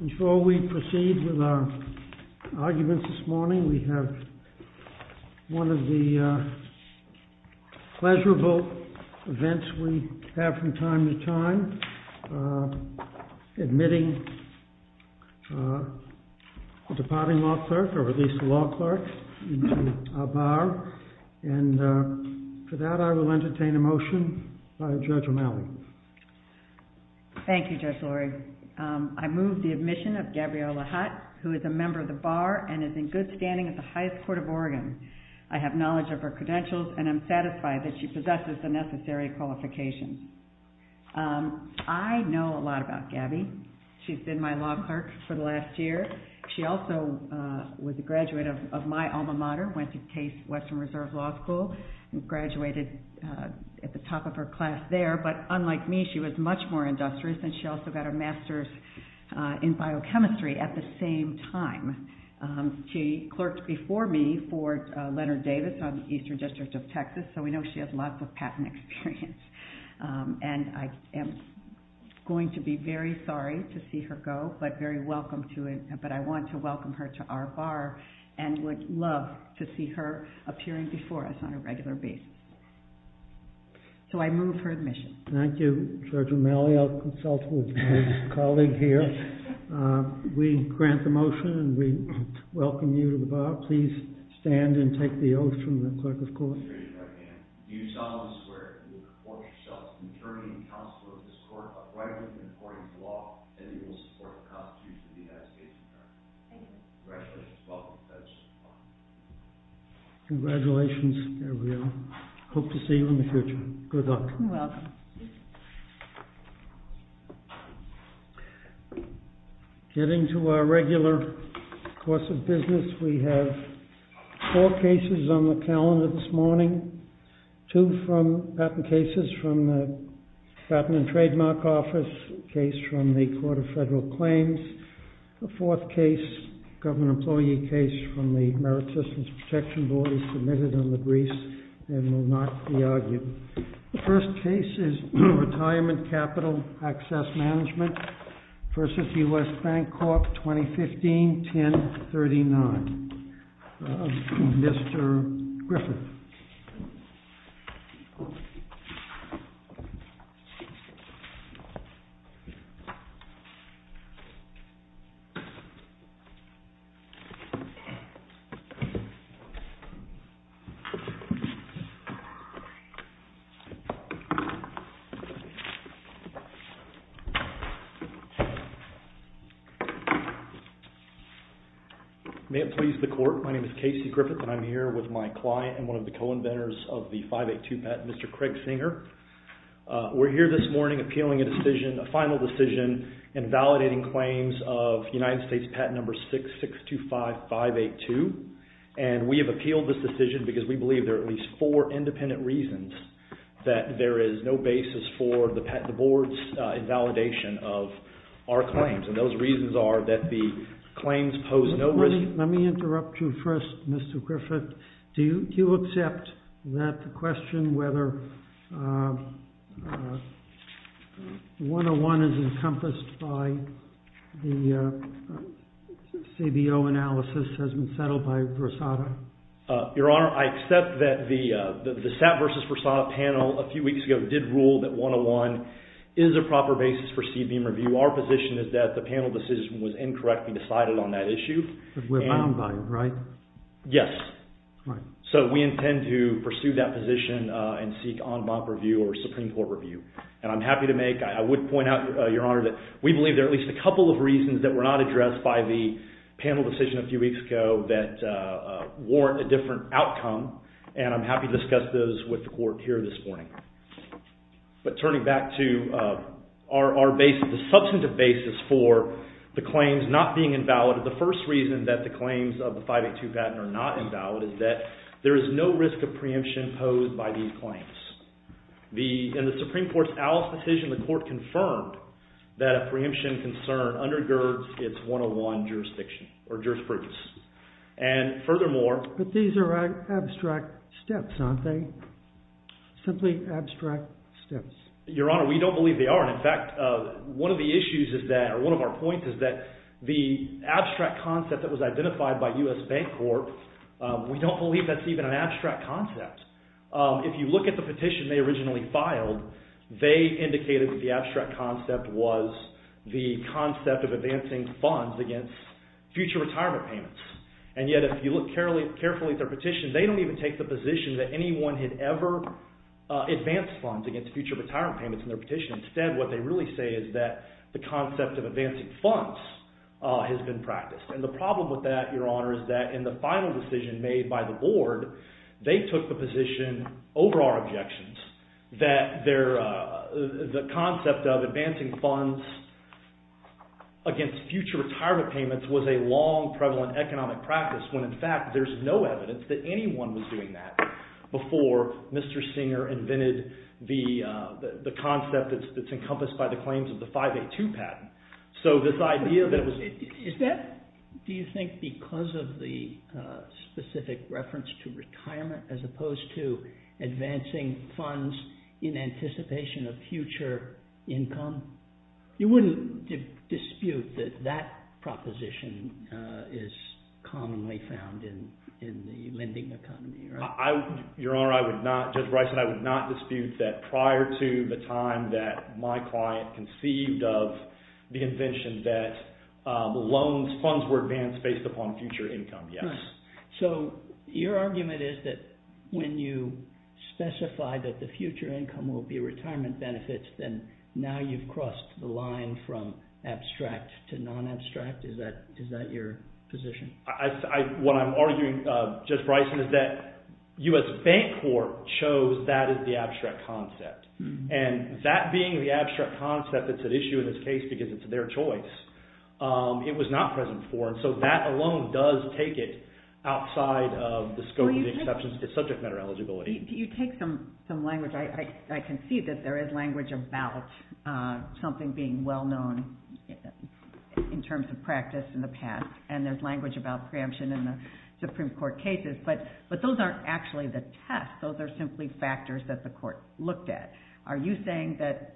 In short, we proceed with our arguments this morning. We have one of the pleasurable events we have from time to time, admitting the departing law clerk, or at least the law clerk, into our bar. And for that, I will entertain a motion by Judge O'Malley. Thank you, Judge Lurie. I move the admission of Gabriela Hutt, who is a member of the bar and is in good standing at the highest court of Oregon. I have knowledge of her credentials and am satisfied that she possesses the necessary qualifications. I know a lot about Gabby. She's been my law clerk for the last year. She also was a graduate of my alma mater, went to Case Western Reserve Law School, and graduated at the top of her class there. But unlike me, she was much more industrious, and she also got her master's in biochemistry at the same time. She clerked before me for Leonard Davis on the Eastern District of Texas, so we know she has lots of patent experience. And I am going to be very sorry to see her go, but very welcome to it. But I want to welcome her to our bar and would love to see her appearing before us on a regular basis. So I move her admission. Thank you, Judge O'Malley. I'll consult with my colleague here. We grant the motion, and we welcome you to the bar. Please stand and take the oath from the clerk of court. Do solemnly swear that you will report yourself to the attorney and counsel of this court, upright and according to law, and that you will support the constitution of the United States of America. Congratulations. Welcome, Judge. Congratulations, Gabrielle. Hope to see you in the future. Good luck. You're welcome. Thank you. Getting to our regular course of business, we have four cases on the calendar this morning. Two from patent cases from the Patent and Trademark Office, a case from the Court of Federal Claims. The fourth case, government employee case from the Merit Systems Protection Board is submitted on the briefs and will not be argued. The first case is Retirement Capital Access Management v. U.S. Bank Corp., 2015-1039. Mr. Griffith. May it please the court. My name is Casey Griffith, and I'm here with my client and one of the co-inventors of the 582 patent, Mr. Craig Singer. We're here this morning appealing a decision, a final decision, in validating claims of United States patent number 6625582. And we have appealed this decision because we believe there are at least four independent reasons that there is no basis for the board's invalidation of our claims. And those reasons are that the claims pose no risk. Let me interrupt you first, Mr. Griffith. Do you accept that the question whether 101 is encompassed by the CBO analysis has been settled by Versada? Your Honor, I accept that the SAT v. Versada panel a few weeks ago did rule that 101 is a proper basis for CBO review. Our position is that the panel decision was incorrectly decided on that issue. But we're bound by it, right? Yes. Right. So we intend to pursue that position and seek en banc review or Supreme Court review. And I'm happy to make – I would point out, Your Honor, that we believe there are at least a couple of reasons that were not addressed by the panel decision a few weeks ago that warrant a different outcome. And I'm happy to discuss those with the court here this morning. But turning back to our basis, the substantive basis for the claims not being invalid, the first reason that the claims of the 582 patent are not invalid is that there is no risk of preemption posed by these claims. In the Supreme Court's Alice decision, the court confirmed that a preemption concern undergirds its 101 jurisdiction or jurisprudence. And furthermore – But these are abstract steps, aren't they? Simply abstract steps. Your Honor, we don't believe they are. In fact, one of the issues is that – or one of our points is that the abstract concept that was identified by U.S. Bank Court, we don't believe that's even an abstract concept. If you look at the petition they originally filed, they indicated that the abstract concept was the concept of advancing funds against future retirement payments. And yet if you look carefully at their petition, they don't even take the position that anyone had ever advanced funds against future retirement payments in their petition. Instead, what they really say is that the concept of advancing funds has been practiced. And the problem with that, Your Honor, is that in the final decision made by the board, they took the position over our objections that the concept of advancing funds against future retirement payments was a long prevalent economic practice when in fact there's no evidence that anyone was doing that before Mr. Singer invented the concept that's encompassed by the claims of the 582 patent. Is that, do you think, because of the specific reference to retirement as opposed to advancing funds in anticipation of future income? You wouldn't dispute that that proposition is commonly found in the lending economy, right? Your Honor, I would not, Judge Bryson, I would not dispute that prior to the time that my client conceived of the invention that loans, funds were advanced based upon future income, yes. So your argument is that when you specify that the future income will be retirement benefits, then now you've crossed the line from abstract to non-abstract? Is that your position? What I'm arguing, Judge Bryson, is that U.S. Bank Corp chose that as the abstract concept. And that being the abstract concept that's at issue in this case because it's their choice, it was not present for them. So that alone does take it outside of the scope of the subject matter eligibility. You take some language, I can see that there is language about something being well-known in terms of practice in the past. And there's language about preemption in the Supreme Court cases. But those aren't actually the test. Those are simply factors that the court looked at. Are you saying that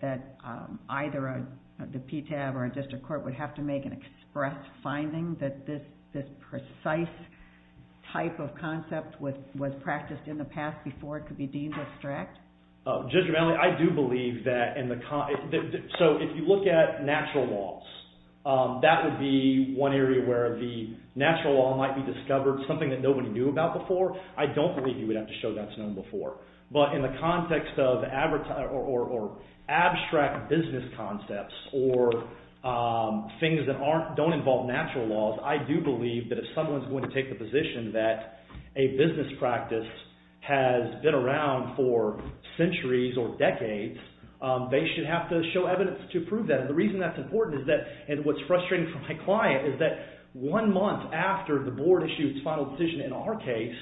either the PTAB or a district court would have to make an express finding that this precise type of concept was practiced in the past before it could be deemed abstract? Judge Romali, I do believe that in the – so if you look at natural laws, that would be one area where the natural law might be discovered, something that nobody knew about before. I don't believe you would have to show that's known before. But in the context of – or abstract business concepts or things that don't involve natural laws, I do believe that if someone is going to take the position that a business practice has been around for centuries or decades, they should have to show evidence to prove that. And the reason that's important is that – and what's frustrating for my client is that one month after the board issued its final decision in our case,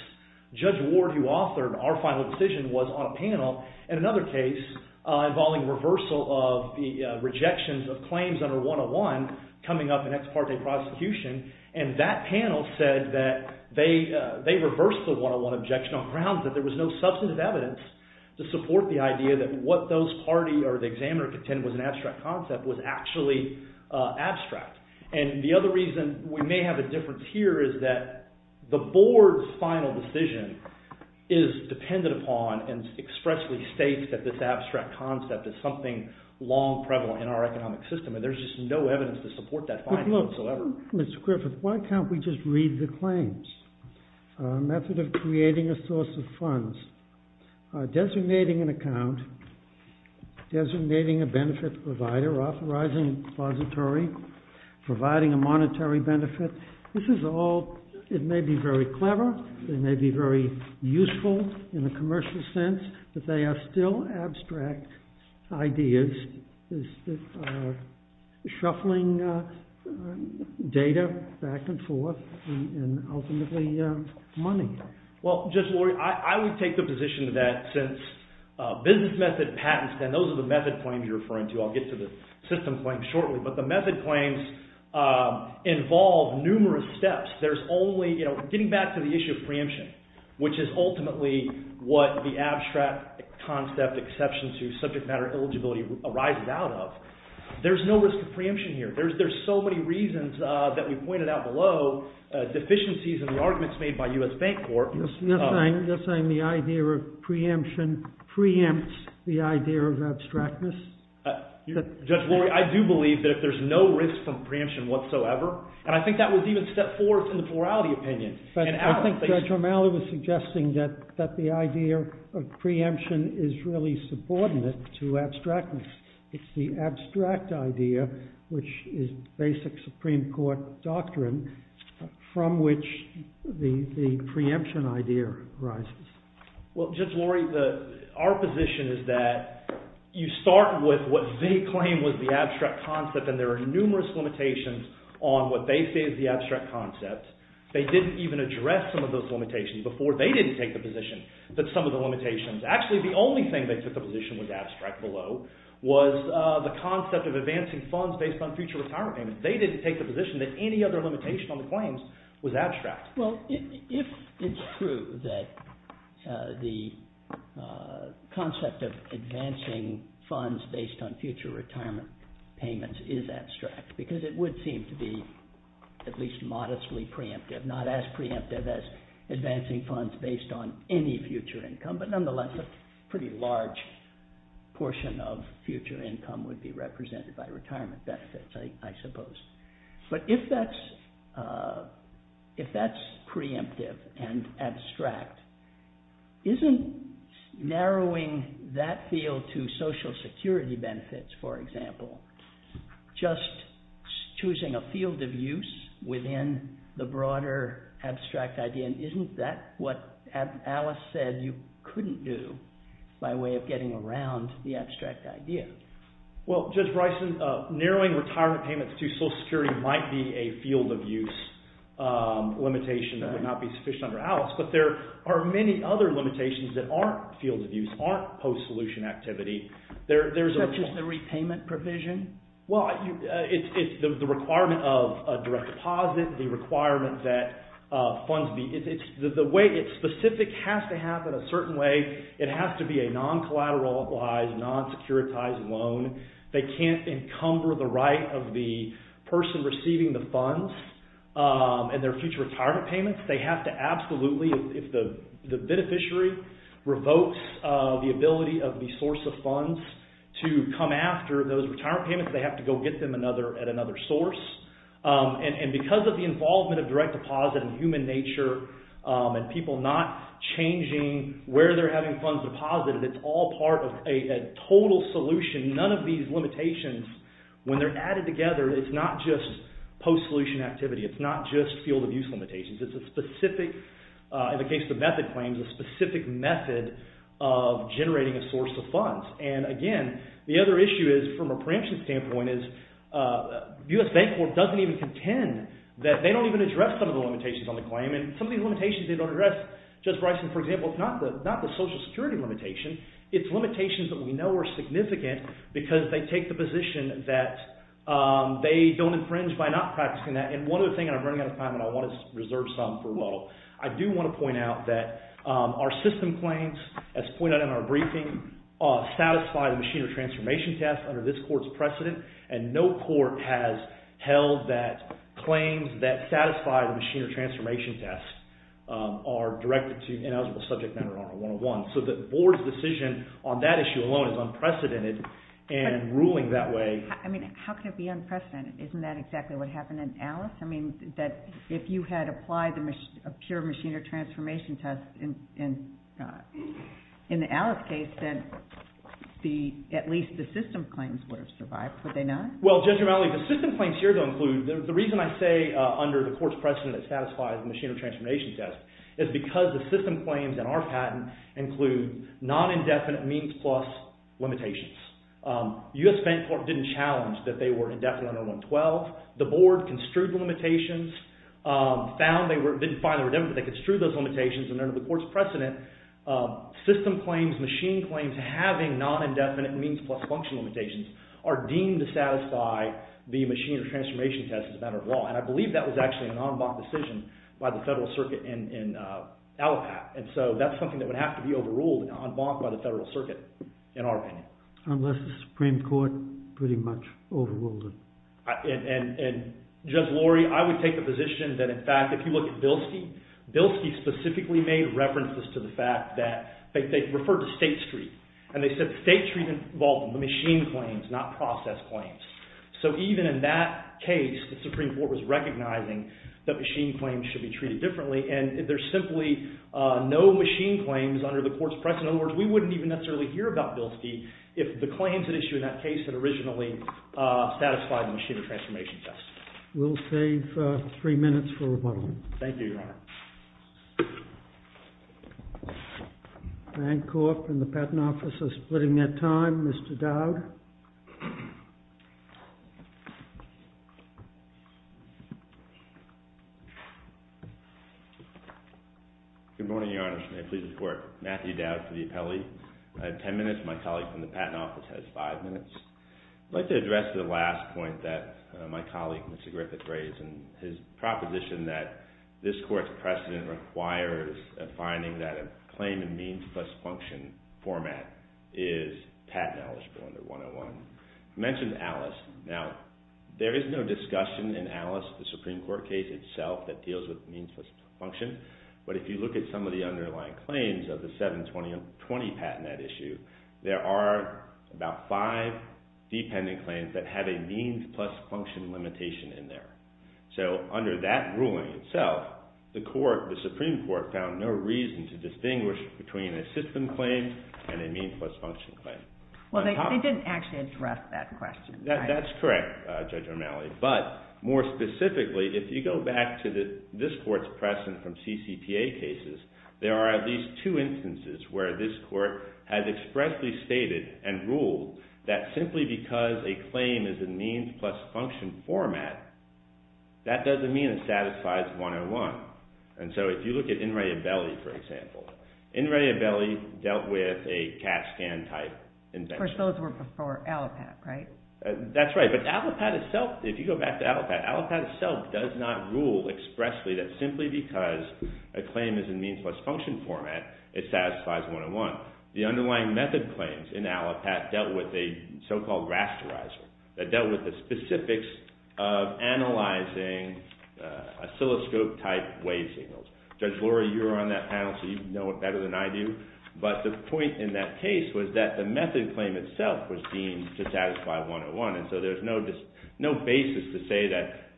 Judge Ward, who authored our final decision, was on a panel in another case involving reversal of the rejections of claims under 101 coming up in ex parte prosecution. And that panel said that they reversed the 101 objection on grounds that there was no substantive evidence to support the idea that what those party or the examiner contended was an abstract concept was actually abstract. And the other reason we may have a difference here is that the board's final decision is dependent upon and expressly states that this abstract concept is something long prevalent in our economic system. And there's just no evidence to support that finding whatsoever. So, Mr. Griffith, why can't we just read the claims? Method of creating a source of funds. Designating an account. Designating a benefit provider. Authorizing a repository. Providing a monetary benefit. This is all – it may be very clever. It may be very useful in a commercial sense. But they are still abstract ideas that are shuffling data back and forth and ultimately money. Well, Judge Lori, I would take the position that since business method patents, and those are the method claims you're referring to. I'll get to the system claims shortly. But the method claims involve numerous steps. There's only – getting back to the issue of preemption, which is ultimately what the abstract concept exceptions to subject matter eligibility arises out of. There's no list of preemption here. There's so many reasons that we pointed out below. Deficiencies in the arguments made by U.S. Bank Corp. You're saying the idea of preemption preempts the idea of abstractness? Judge Lori, I do believe that there's no risk of preemption whatsoever. And I think that was even step four in the plurality opinion. I think Judge Romali was suggesting that the idea of preemption is really subordinate to abstractness. It's the abstract idea, which is basic Supreme Court doctrine, from which the preemption idea arises. Well, Judge Lori, our position is that you start with what they claim was the abstract concept. And there are numerous limitations on what they say is the abstract concept. They didn't even address some of those limitations before they didn't take the position that some of the limitations – actually, the only thing they took the position was abstract below was the concept of advancing funds based on future retirement payments. They didn't take the position that any other limitation on the claims was abstract. Well, if it's true that the concept of advancing funds based on future retirement payments is abstract, because it would seem to be at least modestly preemptive, not as preemptive as advancing funds based on any future income, but nonetheless a pretty large portion of future income would be represented by retirement benefits, I suppose. But if that's preemptive and abstract, isn't narrowing that field to Social Security benefits, for example, just choosing a field of use within the broader abstract idea? And isn't that what Alice said you couldn't do by way of getting around the abstract idea? Well, Judge Bryson, narrowing retirement payments to Social Security might be a field of use limitation that would not be sufficient under Alice. But there are many other limitations that aren't fields of use, aren't post-solution activity. Such as the repayment provision? Well, it's the requirement of a direct deposit, the requirement that funds be... The way it's specific has to happen a certain way. It has to be a non-collateralized, non-securitized loan. They can't encumber the right of the person receiving the funds and their future retirement payments. They have to absolutely, if the beneficiary revokes the ability of the source of funds to come after those retirement payments, they have to go get them at another source. And because of the involvement of direct deposit and human nature and people not changing where they're having funds deposited, it's all part of a total solution. None of these limitations, when they're added together, it's not just post-solution activity. It's not just field of use limitations. It's a specific, in the case of method claims, a specific method of generating a source of funds. And again, the other issue is, from a preemption standpoint, is the U.S. Bank Corp doesn't even contend that they don't even address some of the limitations on the claim. And some of these limitations they don't address. Judge Bryson, for example, it's not the Social Security limitation. It's limitations that we know are significant because they take the position that they don't infringe by not practicing that. And one other thing, and I'm running out of time, and I want to reserve some for Waddle. I do want to point out that our system claims, as pointed out in our briefing, satisfy the machine or transformation test under this court's precedent. And no court has held that claims that satisfy the machine or transformation test are directed to ineligible subject matter under 101. So the board's decision on that issue alone is unprecedented in ruling that way. I mean, how could it be unprecedented? Isn't that exactly what happened in Alice? I mean, if you had applied a pure machine or transformation test in the Alice case, then at least the system claims would have survived, would they not? Well, Judge Romali, the system claims here don't include – the reason I say under the court's precedent it satisfies the machine or transformation test is because the system claims in our patent include non-indefinite means plus limitations. U.S. Federal Court didn't challenge that they were indefinite under 112. The board construed the limitations, found they were – didn't find they were indefinite, but they construed those limitations. And under the court's precedent, system claims, machine claims having non-indefinite means plus function limitations are deemed to satisfy the machine or transformation test as a matter of law. And I believe that was actually an en banc decision by the Federal Circuit in Allapatt. And so that's something that would have to be overruled en banc by the Federal Circuit in our opinion. Unless the Supreme Court pretty much overruled it. And Judge Lorry, I would take the position that in fact, if you look at Bilski, Bilski specifically made references to the fact that – they referred to state street, and they said state street involved the machine claims, not process claims. So even in that case, the Supreme Court was recognizing that machine claims should be treated differently. And there's simply no machine claims under the court's precedent. In other words, we wouldn't even necessarily hear about Bilski if the claims at issue in that case had originally satisfied the machine or transformation test. We'll save three minutes for rebuttal. Thank you, Your Honor. Frank Korf from the Patent Office is splitting their time. Mr. Dowd. Good morning, Your Honor. May I please report Matthew Dowd to the appellee? I have ten minutes. My colleague from the Patent Office has five minutes. I'd like to address the last point that my colleague, Mr. Griffith, raised. And his proposition that this court's precedent requires a finding that a claim in means plus function format is patent eligible under 101. You mentioned Alice. Now, there is no discussion in Alice, the Supreme Court case itself, that deals with means plus function. But if you look at some of the underlying claims of the 720 patent at issue, there are about five dependent claims that have a means plus function limitation in there. So under that ruling itself, the Supreme Court found no reason to distinguish between a system claim and a means plus function claim. Well, they didn't actually address that question. That's correct, Judge Romali. But more specifically, if you go back to this court's precedent from CCTA cases, there are at least two instances where this court has expressly stated and ruled that simply because a claim is in means plus function format, that doesn't mean it satisfies 101. And so if you look at In re Abelli, for example, In re Abelli dealt with a CAT scan type invention. Of course, those were for Allopat, right? That's right. But Allopat itself, if you go back to Allopat, Allopat itself does not rule expressly that simply because a claim is in means plus function format, it satisfies 101. The underlying method claims in Allopat dealt with a so-called rasterizer. That dealt with the specifics of analyzing oscilloscope type wave signals. Judge Lori, you're on that panel, so you know it better than I do. But the point in that case was that the method claim itself was deemed to satisfy 101. And so there's no basis to say that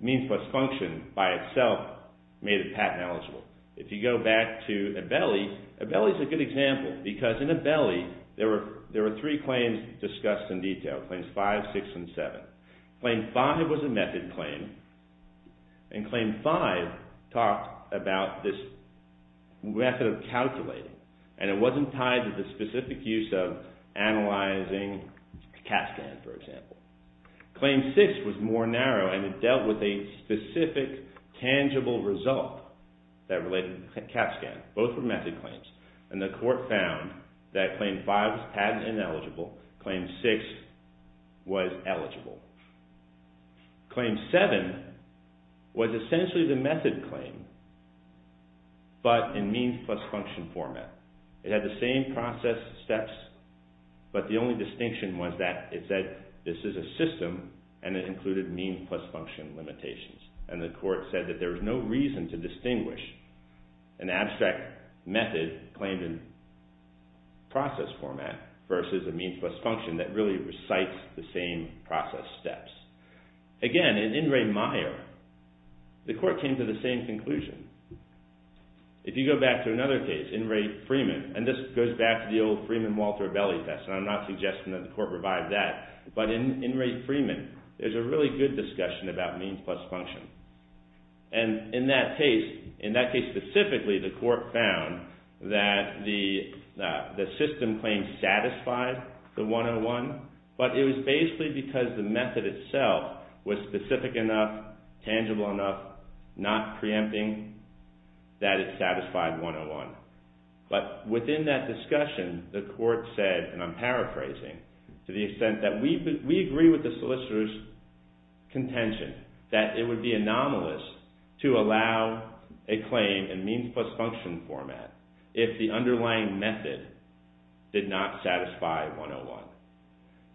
means plus function by itself made the patent eligible. If you go back to Abelli, Abelli is a good example because in Abelli, there were three claims discussed in detail, claims 5, 6, and 7. Claim 5 was a method claim, and claim 5 talked about this method of calculating. And it wasn't tied to the specific use of analyzing CAT scan, for example. Claim 6 was more narrow, and it dealt with a specific tangible result that related to CAT scan. Both were method claims, and the court found that claim 5 was patent ineligible, claim 6 was eligible. Claim 7 was essentially the method claim, but in means plus function format. It had the same process steps, but the only distinction was that it said this is a system, and it included means plus function limitations. And the court said that there was no reason to distinguish an abstract method claimed in process format versus a means plus function that really recites the same process steps. Again, in In re Meyer, the court came to the same conclusion. If you go back to another case, In re Freeman, and this goes back to the old Freeman-Walter Abelli test, and I'm not suggesting that the court revive that. But in In re Freeman, there's a really good discussion about means plus function. And in that case, in that case specifically, the court found that the system claims satisfied the 101. But it was basically because the method itself was specific enough, tangible enough, not preempting that it satisfied 101. But within that discussion, the court said, and I'm paraphrasing, to the extent that we agree with the solicitor's contention that it would be anomalous to allow a claim in means plus function format if the underlying method did not satisfy 101.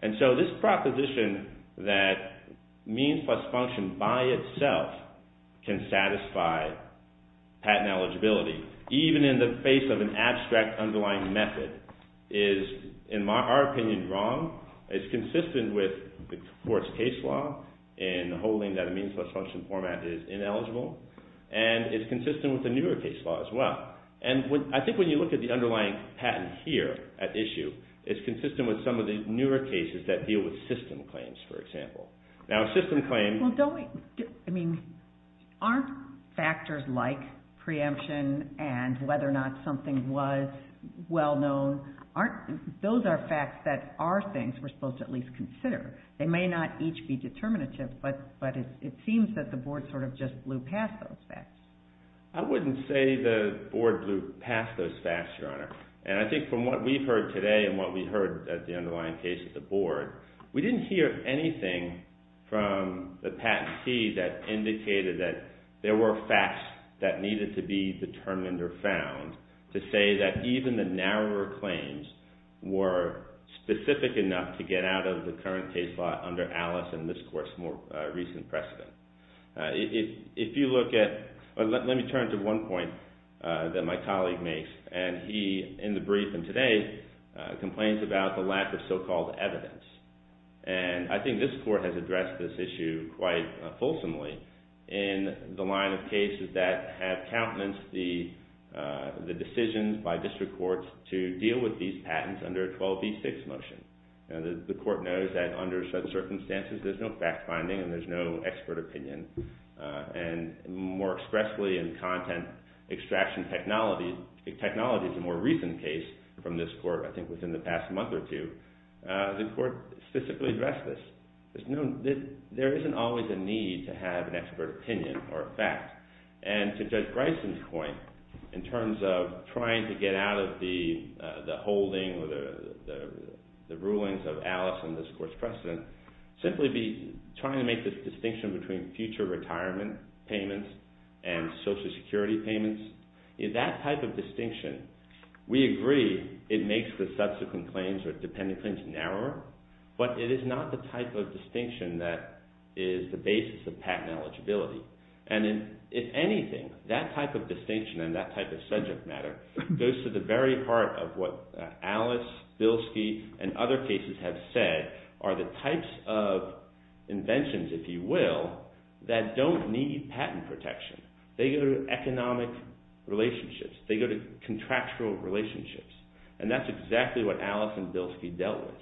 And so this proposition that means plus function by itself can satisfy patent eligibility, even in the face of an abstract underlying method, is, in our opinion, wrong. It's consistent with the court's case law in holding that a means plus function format is ineligible. And it's consistent with the newer case law as well. And I think when you look at the underlying patent here at issue, it's consistent with some of the newer cases that deal with system claims, for example. Now, a system claim— Well, don't we—I mean, aren't factors like preemption and whether or not something was well known, aren't—those are facts that are things we're supposed to at least consider. They may not each be determinative, but it seems that the board sort of just blew past those facts. I wouldn't say the board blew past those facts, Your Honor. And I think from what we've heard today and what we heard at the underlying case at the board, we didn't hear anything from the Patent C that indicated that there were facts that needed to be determined or found to say that even the narrower claims were specific enough to get out of the current case law under Alice and this court's more recent precedent. If you look at—let me turn to one point that my colleague makes. And he, in the brief and today, complains about the lack of so-called evidence. And I think this court has addressed this issue quite fulsomely in the line of cases that have countenance the decisions by district courts to deal with these patents under a 12b6 motion. The court knows that under certain circumstances, there's no fact-finding and there's no expert opinion. And more expressly in content extraction technology—technology is a more recent case from this court, I think within the past month or two—the court specifically addressed this. There isn't always a need to have an expert opinion or a fact. And to Judge Bryson's point, in terms of trying to get out of the holding or the rulings of Alice and this court's precedent, simply be trying to make this distinction between future retirement payments and Social Security payments. In that type of distinction, we agree it makes the subsequent claims or dependent claims narrower, but it is not the type of distinction that is the basis of patent eligibility. And if anything, that type of distinction and that type of subject matter goes to the very heart of what Alice, Bilski, and other cases have said are the types of inventions, if you will, that don't need patent protection. They go to economic relationships. They go to contractual relationships. And that's exactly what Alice and Bilski dealt with.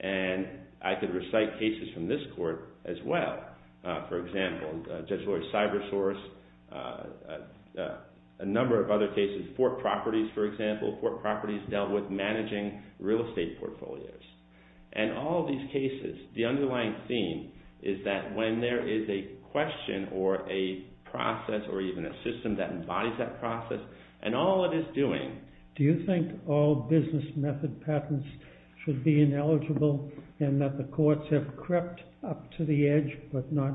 And I could recite cases from this court as well. For example, Judge Lloyd-Cybersource, a number of other cases—Fort Properties, for example. Fort Properties dealt with managing real estate portfolios. And all these cases, the underlying theme is that when there is a question or a process or even a system that embodies that process, and all it is doing— and that the courts have crept up to the edge but not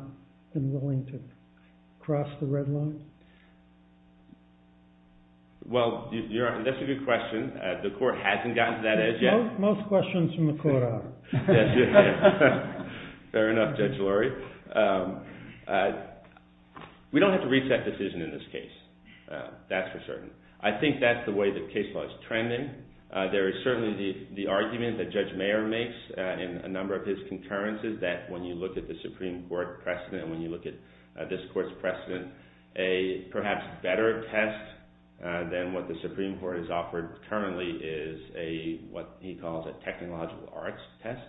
been willing to cross the red line? Well, that's a good question. The court hasn't gotten to that edge yet. Most questions from the court are. Fair enough, Judge Lloyd. We don't have to reset the decision in this case. That's for certain. I think that's the way the case law is trending. There is certainly the argument that Judge Mayer makes in a number of his concurrences that when you look at the Supreme Court precedent and when you look at this court's precedent, a perhaps better test than what the Supreme Court has offered currently is what he calls a technological arts test.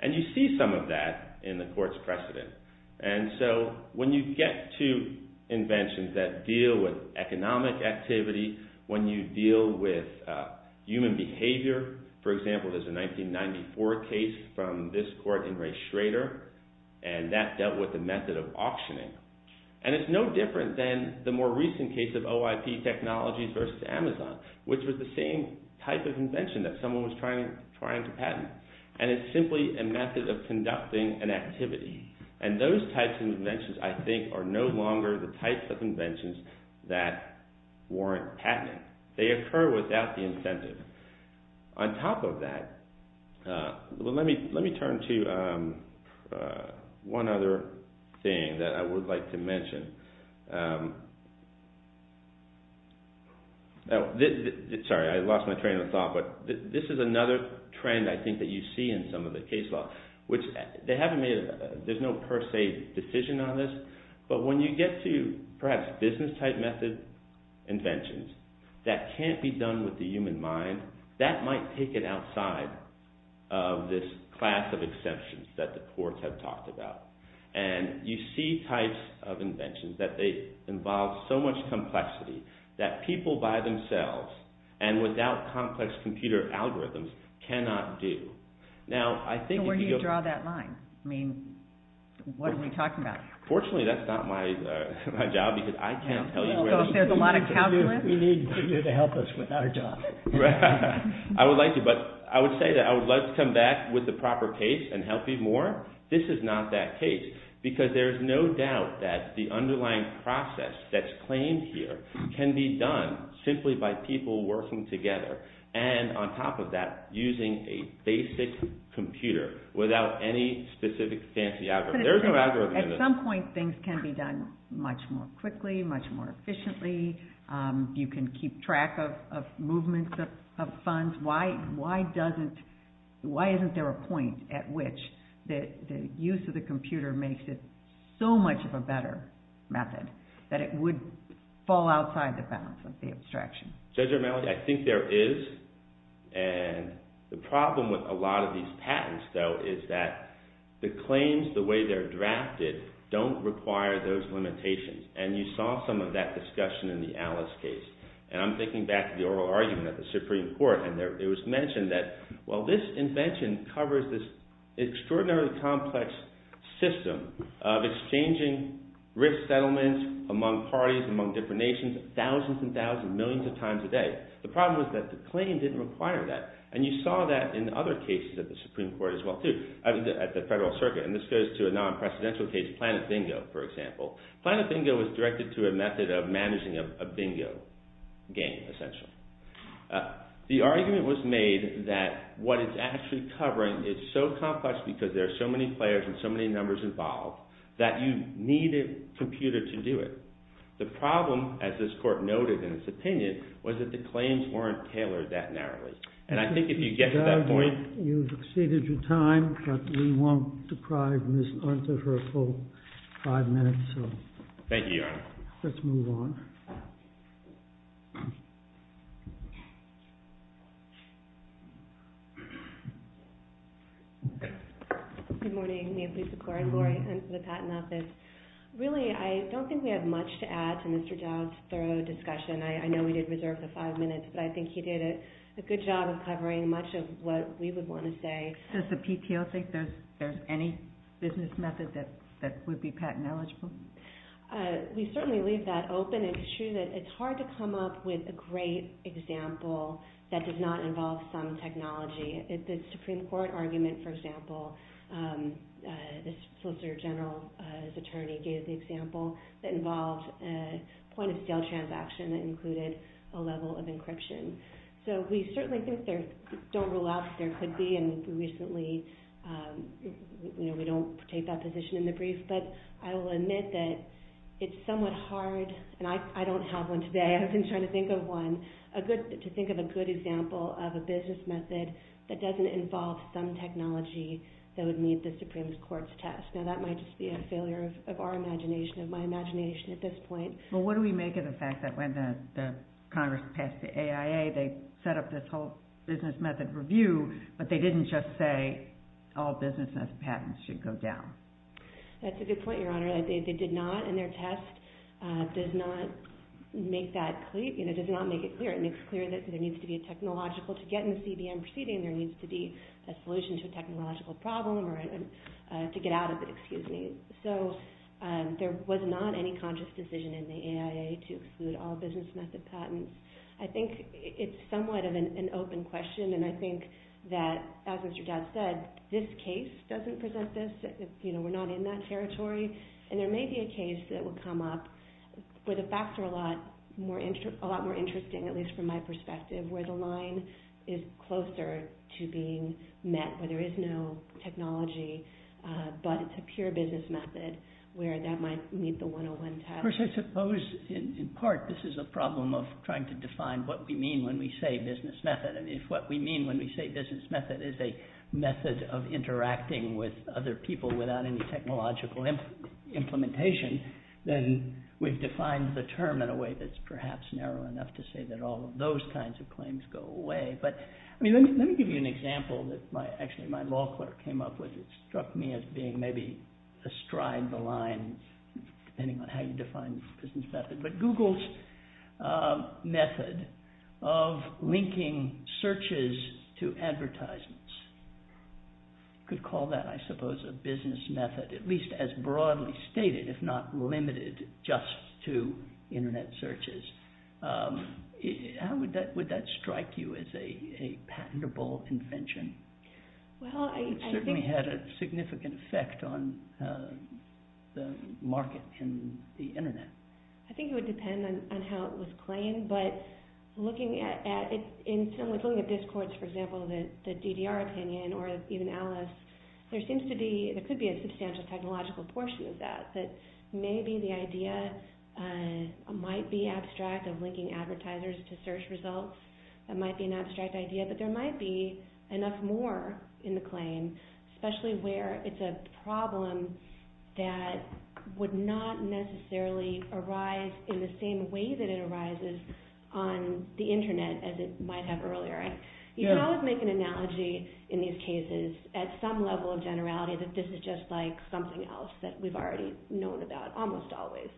And you see some of that in the court's precedent. And so when you get to inventions that deal with economic activity, when you deal with human behavior—for example, there's a 1994 case from this court in Ray Schrader, and that dealt with the method of auctioning. And it's no different than the more recent case of OIP Technologies versus Amazon, which was the same type of invention that someone was trying to patent. And it's simply a method of conducting an activity. And those types of inventions, I think, are no longer the types of inventions that warrant patenting. They occur without the incentive. On top of that, let me turn to one other thing that I would like to mention. Sorry, I lost my train of thought, but this is another trend I think that you see in some of the case law, which they haven't made—there's no per se decision on this. But when you get to perhaps business-type method inventions that can't be done with the human mind, that might take it outside of this class of exceptions that the courts have talked about. And you see types of inventions that involve so much complexity that people by themselves and without complex computer algorithms cannot do. So where do you draw that line? I mean, what are we talking about? Fortunately, that's not my job, because I can't tell you where it is. So if there's a lot of calculus— We need you to help us with our job. I would like to, but I would say that I would like to come back with the proper case and help you more. This is not that case, because there's no doubt that the underlying process that's claimed here can be done simply by people working together. And on top of that, using a basic computer without any specific fancy algorithm. There's no algorithm in this. At some point, things can be done much more quickly, much more efficiently. You can keep track of movements of funds. Why isn't there a point at which the use of the computer makes it so much of a better method, that it would fall outside the bounds of the abstraction? Judge Romali, I think there is. And the problem with a lot of these patents, though, is that the claims, the way they're drafted, don't require those limitations. And you saw some of that discussion in the Alice case. And I'm thinking back to the oral argument at the Supreme Court. And it was mentioned that, well, this invention covers this extraordinarily complex system of exchanging risk settlements among parties, among different nations, thousands and thousands, millions of times a day. The problem is that the claim didn't require that. And you saw that in other cases at the Supreme Court as well, too, at the Federal Circuit. And this goes to a non-presidential case, Planet Bingo, for example. Planet Bingo was directed to a method of managing a bingo game, essentially. The argument was made that what it's actually covering is so complex because there are so many players and so many numbers involved that you need a computer to do it. The problem, as this court noted in its opinion, was that the claims weren't tailored that narrowly. And I think if you get to that point— Mr. Joud, you've exceeded your time, but we won't deprive Ms. Hunter of her full five minutes. Thank you, Your Honor. Let's move on. Good morning. May it please the Court. Lori Hunt for the Patent Office. Really, I don't think we have much to add to Mr. Joud's thorough discussion. I know we did reserve the five minutes, but I think he did a good job of covering much of what we would want to say. Does the PTO think there's any business method that would be patent eligible? We certainly leave that open. It's true that it's hard to come up with a great example that does not involve some technology. The Supreme Court argument, for example, the Solicitor General's attorney gave the example that involved a point-of-sale transaction that included a level of encryption. So we certainly don't rule out that there could be, and recently we don't take that position in the brief. But I will admit that it's somewhat hard, and I don't have one today, I've been trying to think of one, to think of a good example of a business method that doesn't involve some technology that would meet the Supreme Court's test. Now, that might just be a failure of our imagination, of my imagination at this point. Well, what do we make of the fact that when the Congress passed the AIA, they set up this whole business method review, but they didn't just say all business patents should go down? That's a good point, Your Honor. They did not, and their test does not make that clear, does not make it clear. It makes clear that there needs to be a technological, to get in the CBM proceeding, there needs to be a solution to a technological problem or to get out of it, excuse me. So there was not any conscious decision in the AIA to exclude all business method patents. I think it's somewhat of an open question, and I think that, as Mr. Dodd said, this case doesn't present this. We're not in that territory. And there may be a case that will come up where the facts are a lot more interesting, at least from my perspective, where the line is closer to being met, where there is no technology, but it's a pure business method, where that might meet the 101 test. Congress, I suppose, in part, this is a problem of trying to define what we mean when we say business method. And if what we mean when we say business method is a method of interacting with other people without any technological implementation, then we've defined the term in a way that's perhaps narrow enough to say that all of those kinds of claims go away. Let me give you an example that actually my law clerk came up with that struck me as being maybe astride the line, depending on how you define business method. But Google's method of linking searches to advertisements, you could call that, I suppose, a business method, at least as broadly stated, if not limited just to Internet searches. How would that strike you as a patentable invention? It certainly had a significant effect on the market in the Internet. I think it would depend on how it was claimed, but looking at this course, for example, the DDR opinion or even Alice, there could be a substantial technological portion of that. But maybe the idea might be abstract of linking advertisers to search results. It might be an abstract idea, but there might be enough more in the claim, especially where it's a problem that would not necessarily arise in the same way that it arises on the Internet as it might have earlier. You can always make an analogy in these cases at some level of generality that this is just like something else that we've already known about almost always.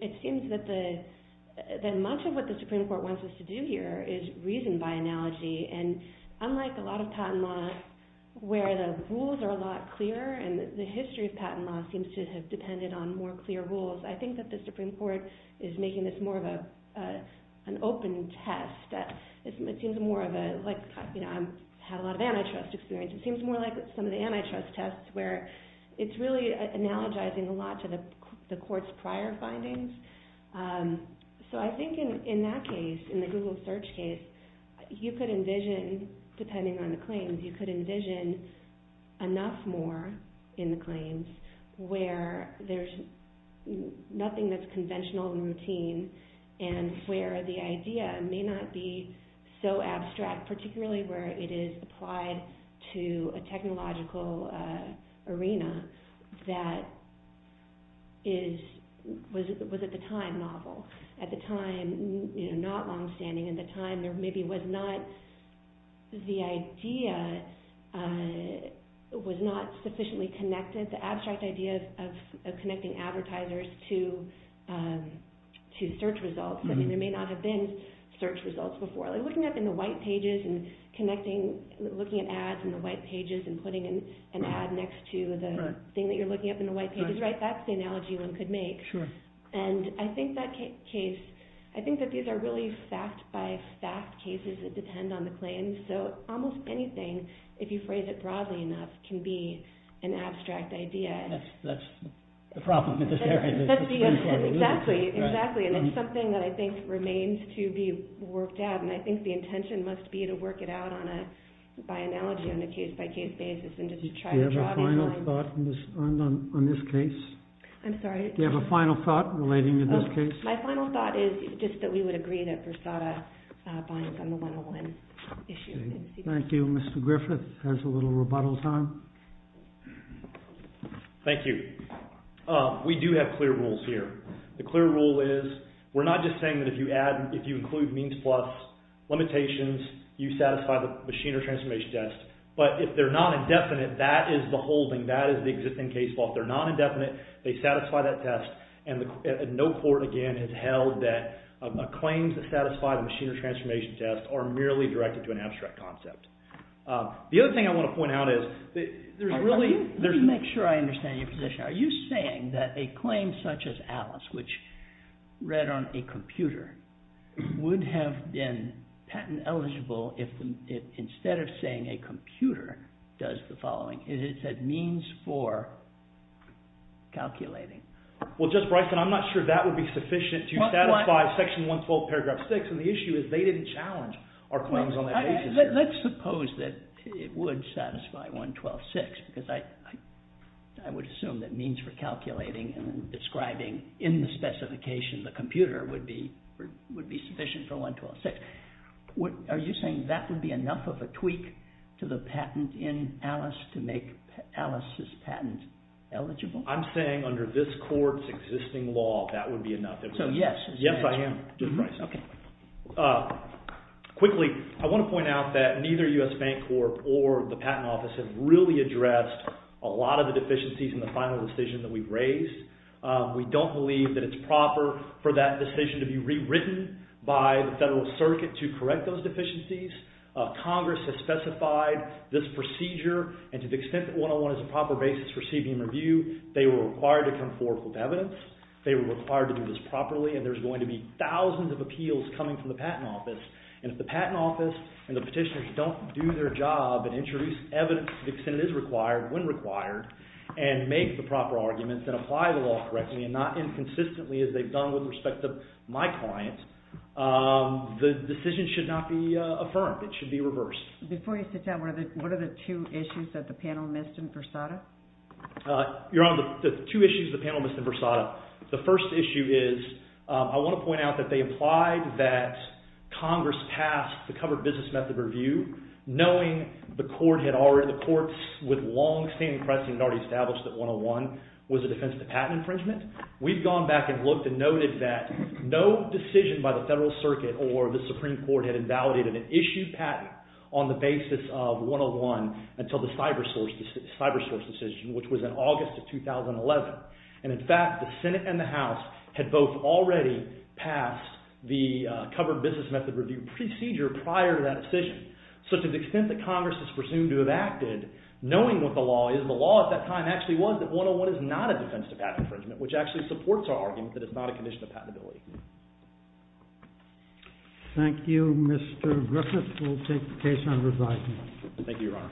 It seems that much of what the Supreme Court wants us to do here is reason by analogy. Unlike a lot of patent law where the rules are a lot clearer and the history of patent law seems to have depended on more clear rules, I think that the Supreme Court is making this more of an open test. I've had a lot of antitrust experience. It seems more like some of the antitrust tests where it's really analogizing a lot to the court's prior findings. I think in that case, in the Google search case, you could envision, depending on the claims, you could envision enough more in the claims where there's nothing that's conventional and routine and where the idea may not be so abstract, particularly where it is applied to a technological arena that was, at the time, novel. At the time, not longstanding. At the time, the idea was not sufficiently connected, the abstract idea of connecting advertisers to search results. There may not have been search results before. Looking up in the white pages and connecting, looking at ads in the white pages and putting an ad next to the thing that you're looking up in the white pages, that's the analogy one could make. I think that these are really fact-by-fact cases that depend on the claims, so almost anything, if you phrase it broadly enough, can be an abstract idea. That's the problem in this area. Exactly, exactly. It's something that I think remains to be worked out, and I think the intention must be to work it out by analogy on a case-by-case basis. Do you have a final thought on this case? I'm sorry? Do you have a final thought relating to this case? My final thought is just that we would agree that Versada binds on the 101 issue. Thank you. Mr. Griffith has a little rebuttal time. Thank you. We do have clear rules here. The clear rule is we're not just saying that if you include means plus limitations, you satisfy the machine or transformation test, but if they're not indefinite, that is the holding. That is the existing case law. If they're not indefinite, they satisfy that test, and no court, again, has held that claims that satisfy the machine or transformation test are merely directed to an abstract concept. The other thing I want to point out is there's really… Let me make sure I understand your position. Are you saying that a claim such as Alice, which read on a computer, would have been patent eligible if instead of saying a computer does the following, it said means for calculating? Well, Justice Bryson, I'm not sure that would be sufficient to satisfy Section 112, Paragraph 6, and the issue is they didn't challenge our claims on that basis here. Let's suppose that it would satisfy 112.6 because I would assume that means for calculating and describing in the specification, the computer, would be sufficient for 112.6. Are you saying that would be enough of a tweak to the patent in Alice to make Alice's patent eligible? I'm saying under this court's existing law, that would be enough. So, yes. Yes, I am, Justice Bryson. Okay. Quickly, I want to point out that neither U.S. Bank Corp. or the Patent Office have really addressed a lot of the deficiencies in the final decision that we've raised. We don't believe that it's proper for that decision to be rewritten by the Federal Circuit to correct those deficiencies. Congress has specified this procedure, and to the extent that 101 is a proper basis for CBM review, they were required to come forth with evidence. They were required to do this properly, and there's going to be thousands of appeals coming from the Patent Office, and if the Patent Office and the petitioners don't do their job and introduce evidence to the extent it is required, when required, and make the proper arguments and apply the law correctly and not inconsistently as they've done with respect to my client, the decision should not be affirmed. It should be reversed. Before you sit down, what are the two issues that the panel missed in Versada? Your Honor, the two issues the panel missed in Versada, the first issue is I want to point out that they implied that Congress passed the covered business method review knowing the court had already, the courts with long standing pressing had already established that 101 was a defense to patent infringement. We've gone back and looked and noted that no decision by the Federal Circuit or the Supreme Court had invalidated an issued patent on the basis of 101 until the cyber source decision, which was in August of 2011. And in fact, the Senate and the House had both already passed the covered business method review procedure prior to that decision. So to the extent that Congress is presumed to have acted knowing what the law is, the law at that time actually was that 101 is not a defense to patent infringement, which actually supports our argument that it's not a condition of patentability. Thank you, Mr. Griffiths. We'll take the case on resignment. Thank you, Your Honor.